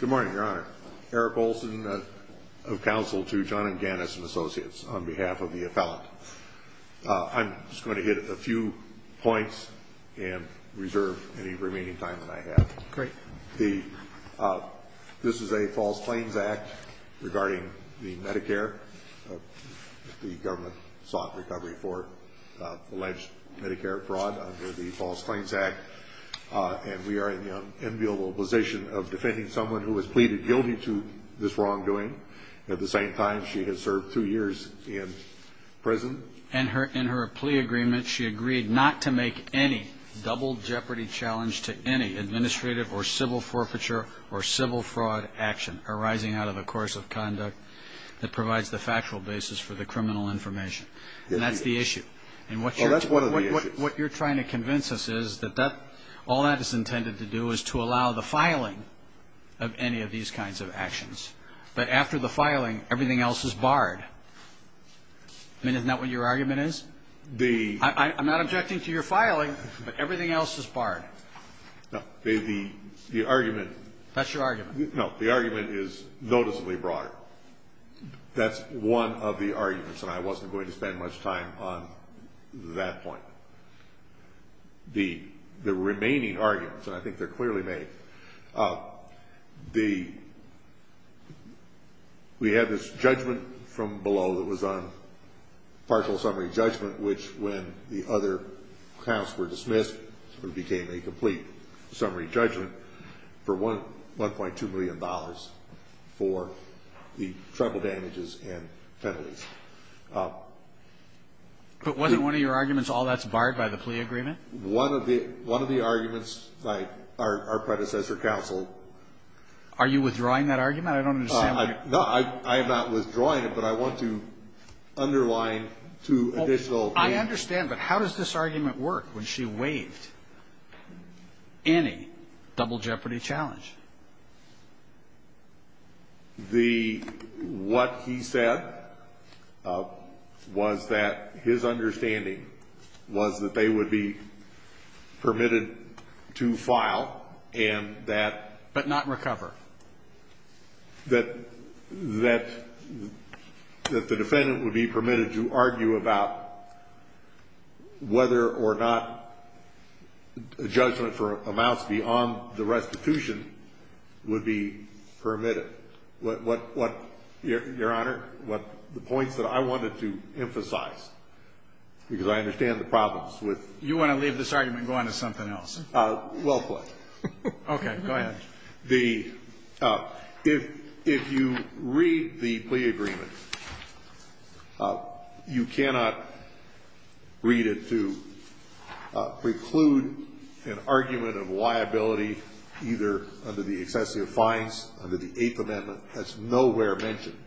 Good morning, Your Honor. Eric Olson of counsel to John M. Gannis and Associates on behalf of the appellate. I'm just going to hit a few points and reserve any remaining time that I have. Great. This is a false claims act regarding the Medicare. The government sought recovery for alleged Medicare fraud under the false claims act. And we are in the unenviable position of defending someone who has pleaded guilty to this wrongdoing. At the same time, she has served two years in prison. In her plea agreement, she agreed not to make any double jeopardy challenge to any administrative or civil forfeiture or civil fraud action arising out of a course of conduct that provides the factual basis for the criminal information. And that's the issue. Well, that's one of the issues. What you're trying to convince us is that all that is intended to do is to allow the filing of any of these kinds of actions. But after the filing, everything else is barred. I mean, isn't that what your argument is? I'm not objecting to your filing, but everything else is barred. No. The argument. That's your argument. No. The argument is noticeably broader. That's one of the arguments, and I wasn't going to spend much time on that point. The remaining arguments, and I think they're clearly made, we had this judgment from below that was on partial summary judgment, which, when the other counts were dismissed, it became a complete summary judgment for $1.2 million for the trouble damages and penalties. But wasn't one of your arguments all that's barred by the plea agreement? One of the arguments, our predecessor counsel. Are you withdrawing that argument? I don't understand why you're. No, I am not withdrawing it, but I want to underline two additional. I understand, but how does this argument work when she waived any double jeopardy challenge? The what he said was that his understanding was that they would be permitted to file and that. But not recover. That the defendant would be permitted to argue about whether or not a judgment for amounts beyond the restitution would be permitted. What, Your Honor? The points that I wanted to emphasize, because I understand the problems with. You want to leave this argument and go on to something else? Well played. Okay. Go ahead. If you read the plea agreement, you cannot read it to preclude an argument of liability either under the excessive fines under the eighth amendment. That's nowhere mentioned.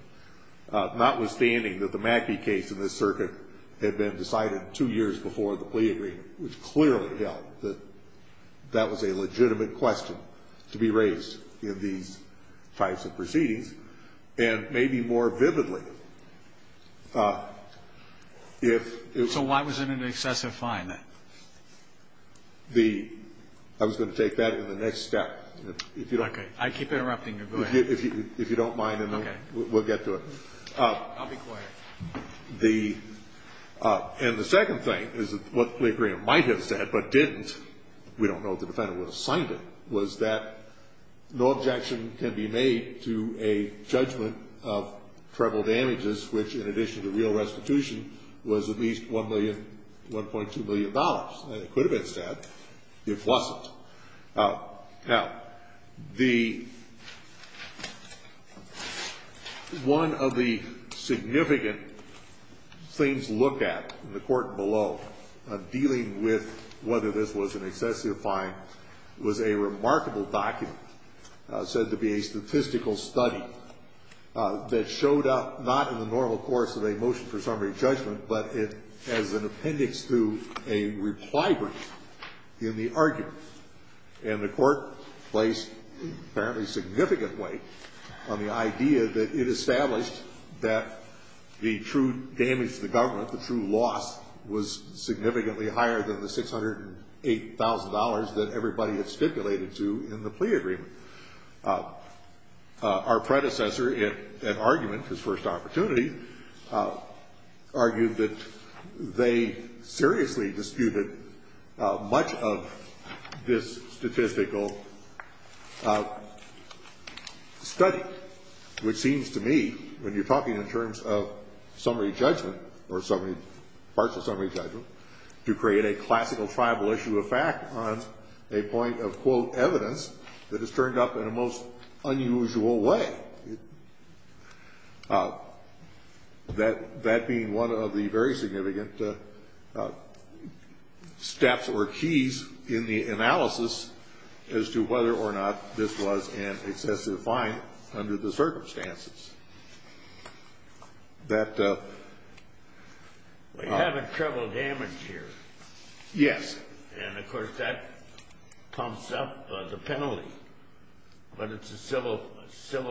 Notwithstanding that the Mackey case in this circuit had been decided two years before the plea agreement, which clearly held that that was a legitimate question to be raised in these types of proceedings. And maybe more vividly. So why was it an excessive fine? I was going to take that in the next step. Okay. I keep interrupting you. Go ahead. If you don't mind, we'll get to it. I'll be quiet. And the second thing is what the plea agreement might have said but didn't, we don't know if the defendant would have signed it, was that no objection can be made to a judgment of treble damages, which in addition to real restitution was at least $1.2 million, and it could have been said it wasn't. Now, the one of the significant things looked at in the court below dealing with whether this was an excessive fine was a remarkable document said to be a statistical study that showed up not in the normal course of a motion for summary judgment, but as an appendix to a reply brief in the argument. And the court placed apparently significant weight on the idea that it established that the true damage to the government, the true loss, was significantly higher than the $608,000 that everybody had stipulated to in the plea agreement. Our predecessor in argument, his first opportunity, argued that they seriously disputed much of this statistical study, which seems to me when you're talking in terms of summary judgment or partial summary judgment, to create a classical tribal issue of fact on a point of, quote, evidence that has turned up in a most unusual way. That being one of the very significant steps or keys in the analysis as to whether or not this was an excessive fine under the circumstances. We have a treble damage here. Yes. And, of course, that pumps up the penalty. But it's a civil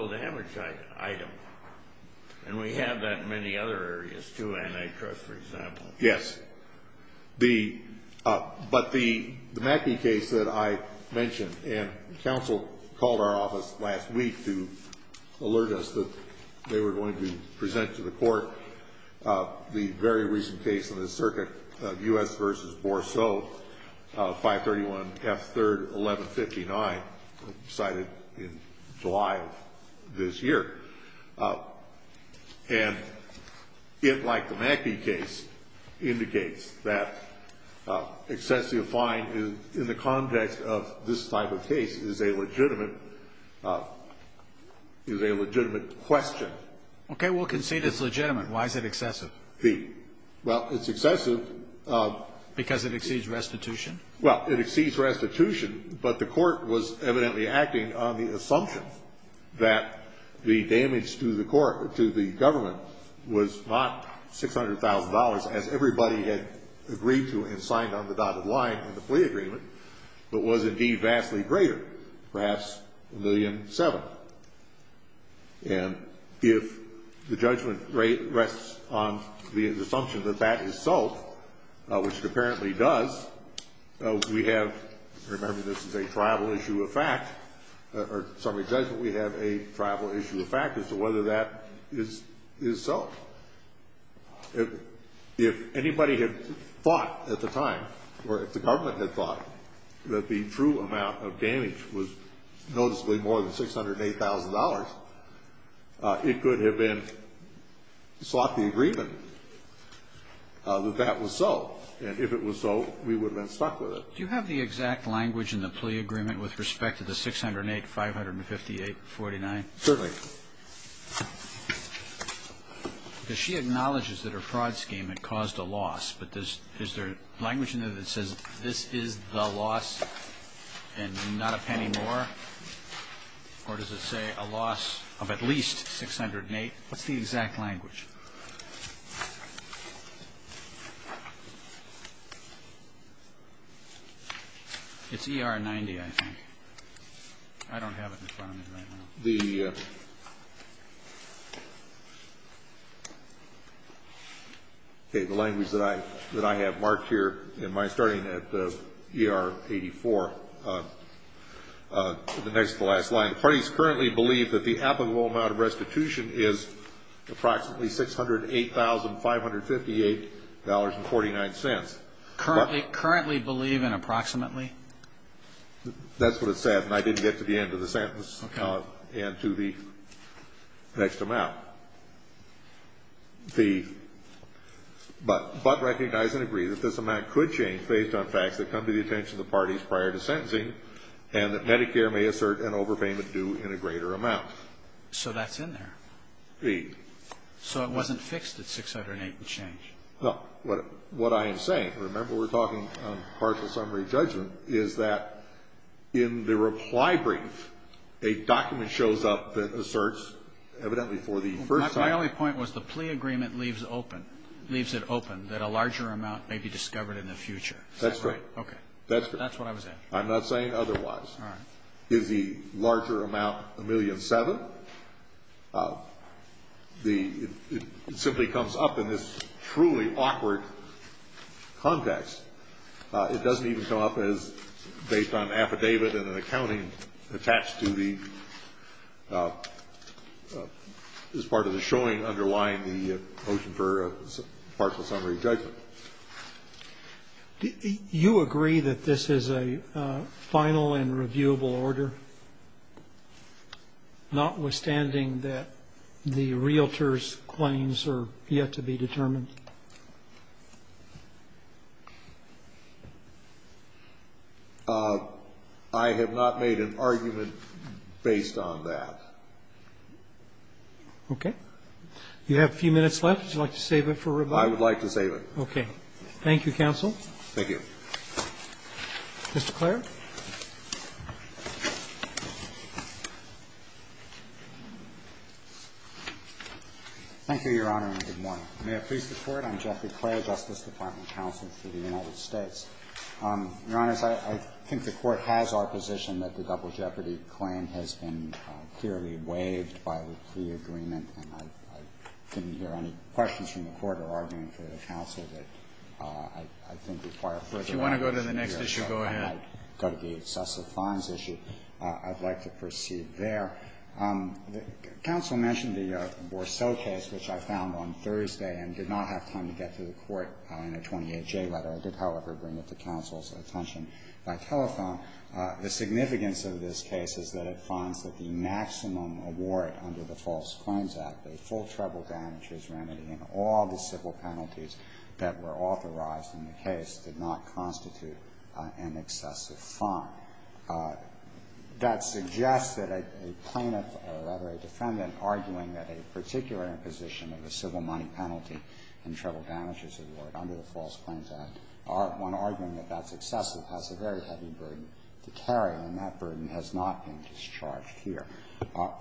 damage item. And we have that in many other areas, too, antitrust, for example. Yes. But the Mackey case that I mentioned, and counsel called our office last week to alert us that they were going to present to the court the very recent case in the circuit of U.S. v. Bourseau, 531 F. 3rd, 1159, cited in July of this year. And it, like the Mackey case, indicates that excessive fine in the context of this type of case is a legitimate question. Okay. We'll concede it's legitimate. Why is it excessive? Well, it's excessive. Because it exceeds restitution? Well, it exceeds restitution, but the court was evidently acting on the assumption that the damage to the government was not $600,000, as everybody had agreed to and signed on the dotted line in the plea agreement, but was indeed vastly greater, perhaps $1.7 million. And if the judgment rests on the assumption that that is so, which it apparently does, we have, remember this is a tribal issue of fact, or sorry, judgment, we have a tribal issue of fact as to whether that is so. If anybody had thought at the time, or if the government had thought that the true amount of damage was noticeably more than $608,000, it could have been sought the agreement that that was so. And if it was so, we would have been stuck with it. Do you have the exact language in the plea agreement with respect to the 608, 558, 49? Certainly. Because she acknowledges that her fraud scheme had caused a loss, but is there language in there that says this is the loss and not a penny more? Or does it say a loss of at least 608? What's the exact language? It's ER 90, I think. I don't have it in front of me right now. The language that I have marked here in my starting at ER 84, the next to the last line, the parties currently believe that the applicable amount of restitution is approximately $608,558.49. Currently believe in approximately? That's what it said, and I didn't get to the end of the sentence and to the next amount. But recognize and agree that this amount could change based on facts that come to the attention of the parties prior to sentencing and that Medicare may assert an overpayment due in a greater amount. So that's in there? Indeed. So it wasn't fixed at 608 and changed? No. What I am saying, remember we're talking partial summary judgment, is that in the reply brief, a document shows up that asserts evidently for the first time. My only point was the plea agreement leaves open, leaves it open, that a larger amount may be discovered in the future. That's correct. Okay. That's what I was asking. I'm not saying otherwise. All right. Is the larger amount $1,000,007? It simply comes up in this truly awkward context. It doesn't even come up as based on an affidavit and an accounting attached to the, as part of the showing underlying the motion for partial summary judgment. Do you agree that this is a final and reviewable order, notwithstanding that the realtors' claims are yet to be determined? I have not made an argument based on that. Okay. You have a few minutes left. Would you like to save it for rebuttal? I would like to save it. Okay. Thank you, counsel. Thank you. Mr. Clair? Thank you, Your Honor, and good morning. May it please the Court. I'm Jeffrey Clair, Justice Department counsel for the United States. Your Honor, I think the Court has our position that the double jeopardy claim has been clearly waived by the plea agreement, and I didn't hear any questions from the Court or argument from the counsel that I think require further argument. If you want to go to the next issue, go ahead. I'd like to go to the excessive fines issue. I'd like to proceed there. Counsel mentioned the Borsell case, which I found on Thursday and did not have time to get to the Court in a 28J letter. I did, however, bring it to counsel's attention by telephone. The significance of this case is that it finds that the maximum award under the False Claims Act for civil penalties that were authorized in the case did not constitute an excessive fine. That suggests that a plaintiff or, rather, a defendant arguing that a particular imposition of a civil money penalty and treble damages award under the False Claims Act, one arguing that that's excessive, has a very heavy burden to carry, and that burden has not been discharged here.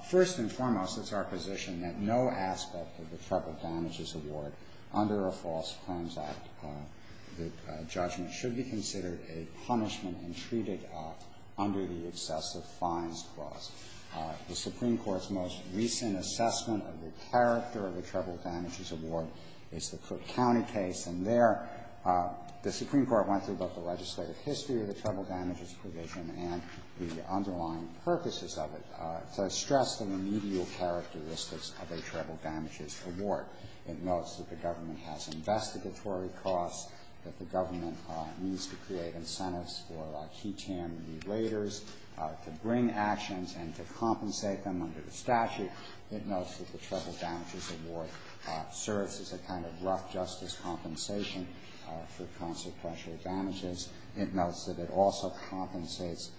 First and foremost, it's our position that no aspect of the treble damages award under a False Claims Act judgment should be considered a punishment and treated under the excessive fines clause. The Supreme Court's most recent assessment of the character of the treble damages award is the Cook County case, and there the Supreme Court went through both the So I stress the remedial characteristics of a treble damages award. It notes that the government has investigatory costs, that the government needs to create incentives for key TAM relators to bring actions and to compensate them under the statute. It notes that the treble damages award serves as a kind of rough justice compensation for consequential damages. It notes that it also compensates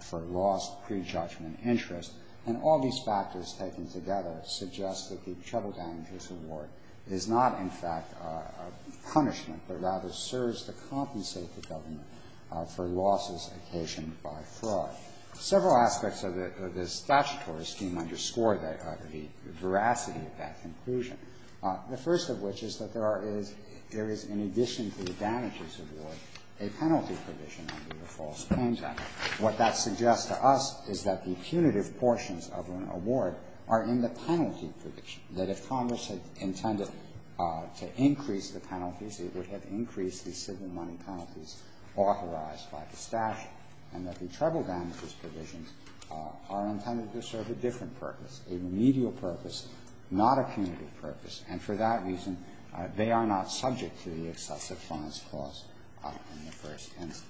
for lost prejudgment interest. And all these factors taken together suggest that the treble damages award is not, in fact, a punishment, but rather serves to compensate the government for losses occasioned by fraud. Several aspects of the statutory scheme underscore the veracity of that conclusion. The first of which is that there is, in addition to the damages award, a penalty provision under the False Claims Act. What that suggests to us is that the punitive portions of an award are in the penalty provision, that if Congress had intended to increase the penalties, it would have increased the civil money penalties authorized by the statute, and that the treble damages provisions are intended to serve a different purpose, a remedial purpose, not a punitive purpose. And for that reason, they are not subject to the excessive fines clause in the first instance.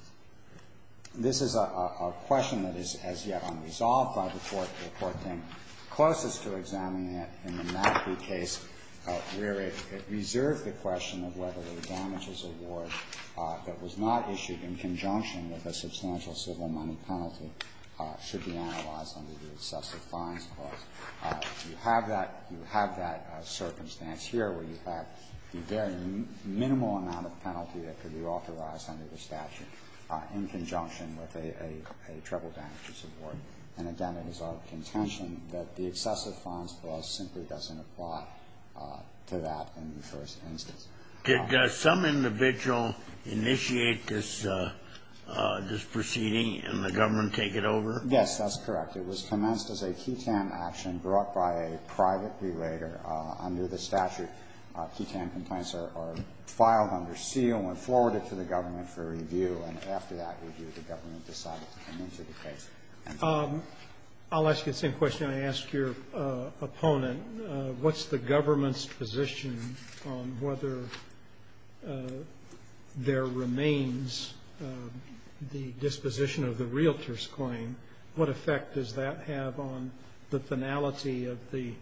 This is a question that is as yet unresolved by the Court. The Court came closest to examining it in the Matthew case, where it reserved the question of whether the damages award that was not issued in conjunction with a substantial civil money penalty should be analyzed under the excessive fines clause. You have that you have that circumstance here where you have the very minimal amount of penalty that could be authorized under the statute in conjunction with a treble damages award. And again, it is our contention that the excessive fines clause simply doesn't apply to that in the first instance. Did some individual initiate this proceeding and the government take it over? Yes, that's correct. It was commenced as a QTAM action brought by a private belayer under the statute. QTAM complaints are filed under seal and forwarded to the government for review, and after that review, the government decided to come into the case. I'll ask you the same question I asked your opponent. What's the government's position on whether there remains the disposition of the realtor's claim? What effect does that have on the finality of the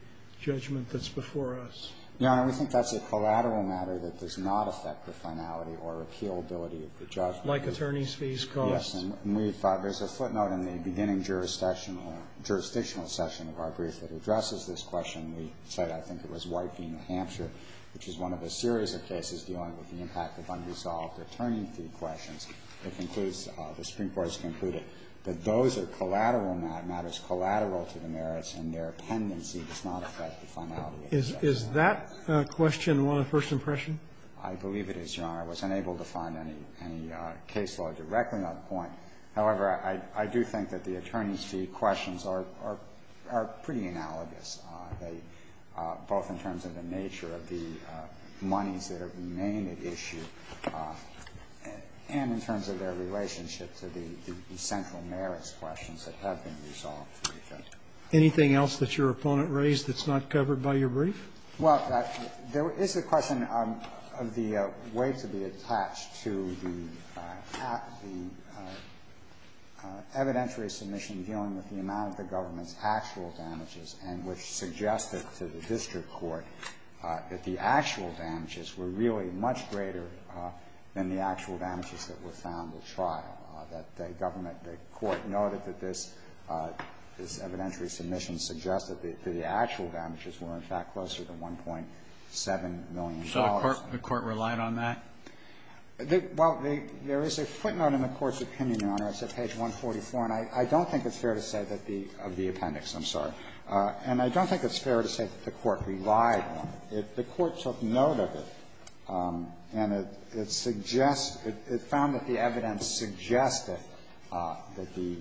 judgment that's before us? Your Honor, we think that's a collateral matter that does not affect the finality or repealability of the judgment. Like attorney's fees cost? Yes. And we thought there's a footnote in the beginning jurisdictional session of our brief that addresses this question. We said I think it was White v. New Hampshire, which is one of a series of cases dealing with the impact of unresolved attorney fee questions. The Supreme Court has concluded that those are collateral matters, collateral to the merits, and their pendency does not affect the finality of the judgment. Is that question one of first impression? I believe it is, Your Honor. I was unable to find any case law directly on the point. However, I do think that the attorney's fee questions are pretty analogous, both in terms of the nature of the monies that are being named at issue and in terms of their relationship to the central merits questions that have been resolved. Anything else that your opponent raised that's not covered by your brief? Well, there is a question of the way to be attached to the evidentiary submission dealing with the amount of the government's actual damages and which suggested to the district court that the actual damages were really much greater than the actual damages that were found at trial, that the government, the court noted that this evidentiary submission suggested that the actual damages were in fact closer to $1.7 million. So the court relied on that? Well, there is a footnote in the court's opinion, Your Honor. It's at page 144. And I don't think it's fair to say that the — of the appendix, I'm sorry. And I don't think it's fair to say that the court relied on it. The court took note of it, and it suggests — it found that the evidence suggested that the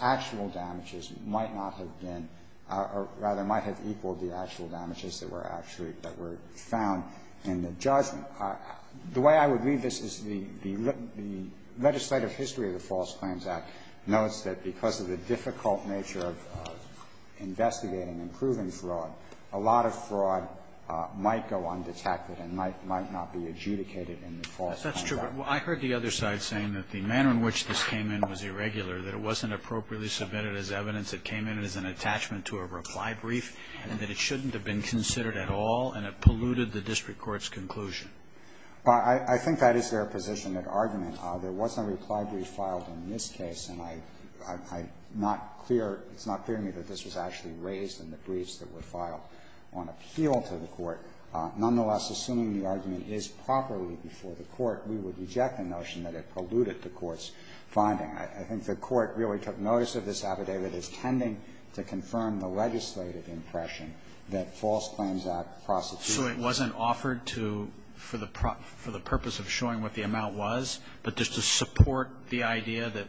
actual damages might not have been — or rather might have equaled the actual damages that were actually — that were found in the judgment. But the way I would read this is the legislative history of the False Claims Act notes that because of the difficult nature of investigating and proving fraud, a lot of fraud might go undetected and might not be adjudicated in the False Claims Act. That's true. But I heard the other side saying that the manner in which this came in was irregular, that it wasn't appropriately submitted as evidence, it came in as an attachment to a reply brief, and that it shouldn't have been considered at all and it polluted the district court's conclusion. Well, I think that is their position and argument. There was no reply brief filed in this case, and I'm not clear — it's not clear to me that this was actually raised in the briefs that were filed on appeal to the court. Nonetheless, assuming the argument is properly before the court, we would reject the notion that it polluted the court's finding. I think the court really took notice of this affidavit as tending to confirm the legislative impression that False Claims Act prosecution — So it wasn't offered to — for the purpose of showing what the amount was, but just to support the idea that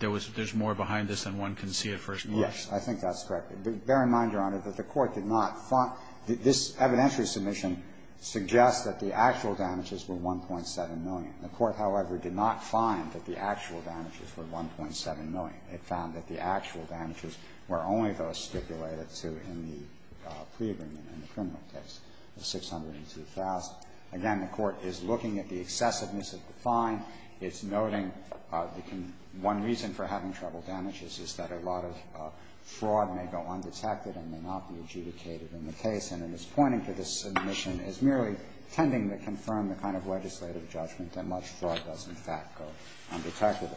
there was — there's more behind this than one can see at first glance? Yes. I think that's correct. Bear in mind, Your Honor, that the court did not — this evidentiary submission suggests that the actual damages were $1.7 million. The court, however, did not find that the actual damages were $1.7 million. It found that the actual damages were only those stipulated to in the pre-agreement and the criminal case, the $602,000. Again, the court is looking at the excessiveness of the fine. It's noting one reason for having treble damages is that a lot of fraud may go undetected and may not be adjudicated in the case. And it is pointing to this submission as merely tending to confirm the kind of legislative judgment that much fraud does, in fact, go undetected.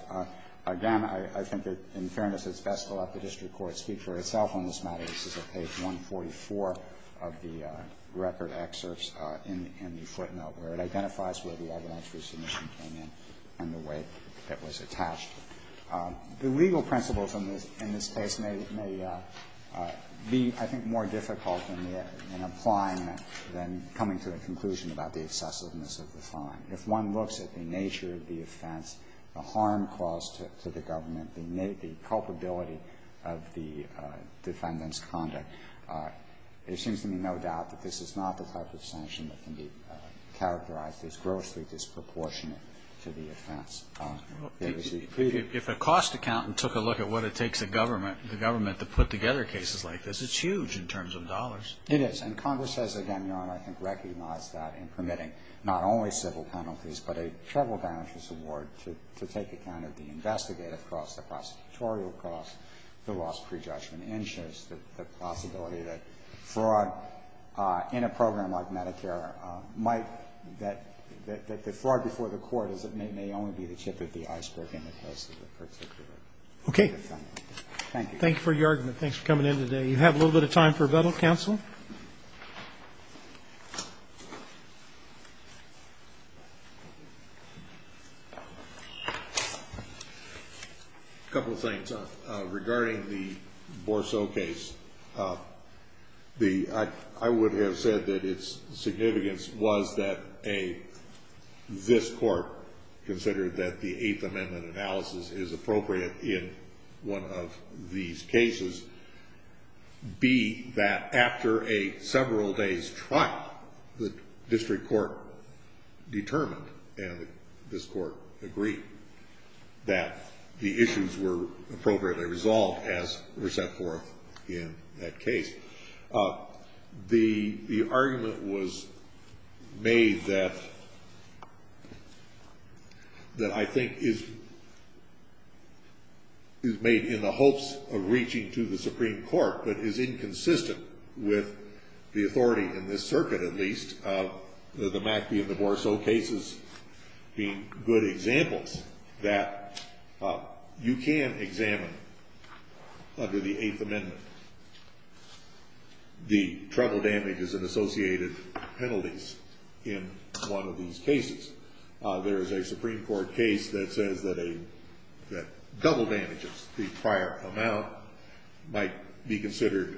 Again, I think that, in fairness, it's best to let the district court speak for itself on this matter. This is at page 144 of the record excerpts in the footnote where it identifies where the evidentiary submission came in and the way it was attached. The legal principles in this case may be, I think, more difficult in applying than coming to a conclusion about the excessiveness of the fine. If one looks at the nature of the offense, the harm caused to the government, the culpability of the defendant's conduct, there seems to be no doubt that this is not the type of sanction that can be characterized as grossly disproportionate to the offense. If a cost accountant took a look at what it takes the government to put together cases like this, it's huge in terms of dollars. It is. And Congress has, again, Your Honor, I think recognized that in permitting not only civil penalties but a treble damages award to take account of the investigative cost, the prosecutorial cost, the lost prejudgment, and shows the possibility that fraud in a program like Medicare might, that the fraud before the court may only be the tip of the iceberg in the case of the particular defendant. Thank you. Thank you for your argument. Thanks for coming in today. We have a little bit of time for rebuttal. Counsel. A couple of things. Regarding the Borso case, I would have said that its significance was that, A, this court considered that the Eighth Amendment analysis is appropriate in one of these cases, B, that after a several days' trial, the district court determined, and this court agreed, that the issues were appropriately resolved as were set forth in that case. The argument was made that I think is made in the hopes of reaching to the Supreme Court but is inconsistent with the authority in this circuit, at least, of the Mackey and the Borso cases being good examples that you can examine under the Eighth Amendment, the trouble damages and associated penalties in one of these cases. There is a Supreme Court case that says that double damages, the prior amount, might be considered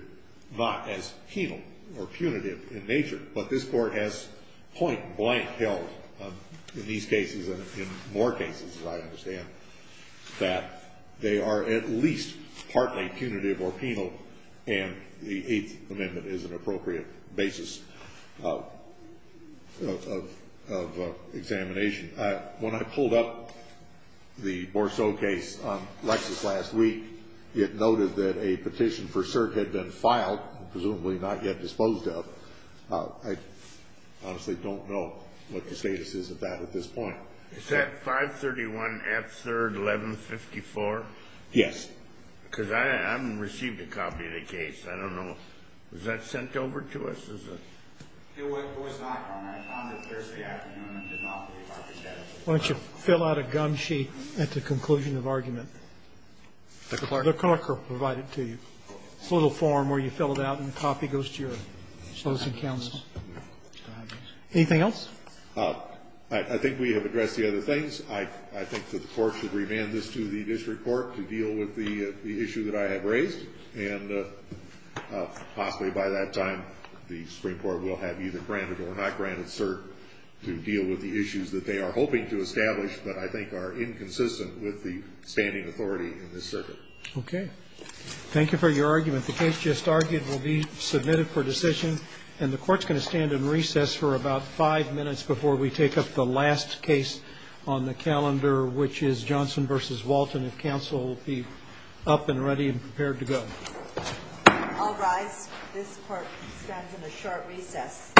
not as penal or punitive in nature, but this court has point-blank held in these cases and in more cases, as I understand, that they are at least partly punitive or penal and the Eighth Amendment is an appropriate basis of examination. When I pulled up the Borso case on Lexis last week, it noted that a petition for cert had been filed, presumably not yet disposed of. I honestly don't know what the status is of that at this point. Is that 531 F. 3rd, 1154? Yes. Because I haven't received a copy of the case. I don't know. Was that sent over to us as a? It was not, Your Honor. I found it Thursday afternoon and did not receive our petition. Why don't you fill out a gum sheet at the conclusion of argument? The clerk will provide it to you. It's a little form where you fill it out and the copy goes to your closing counsel. Anything else? I think we have addressed the other things. I think that the Court should remand this to the district court to deal with the issue that I have raised, and possibly by that time the Supreme Court will have either granted or not granted cert to deal with the issues that they are hoping to establish but I think are inconsistent with the standing authority in this circuit. Okay. Thank you for your argument. The case just argued will be submitted for decision, and the Court's going to stand in recess for about five minutes before we take up the last case on the calendar, which is Johnson v. Walton. If counsel will be up and ready and prepared to go. I'll rise. This Court stands in a short recess.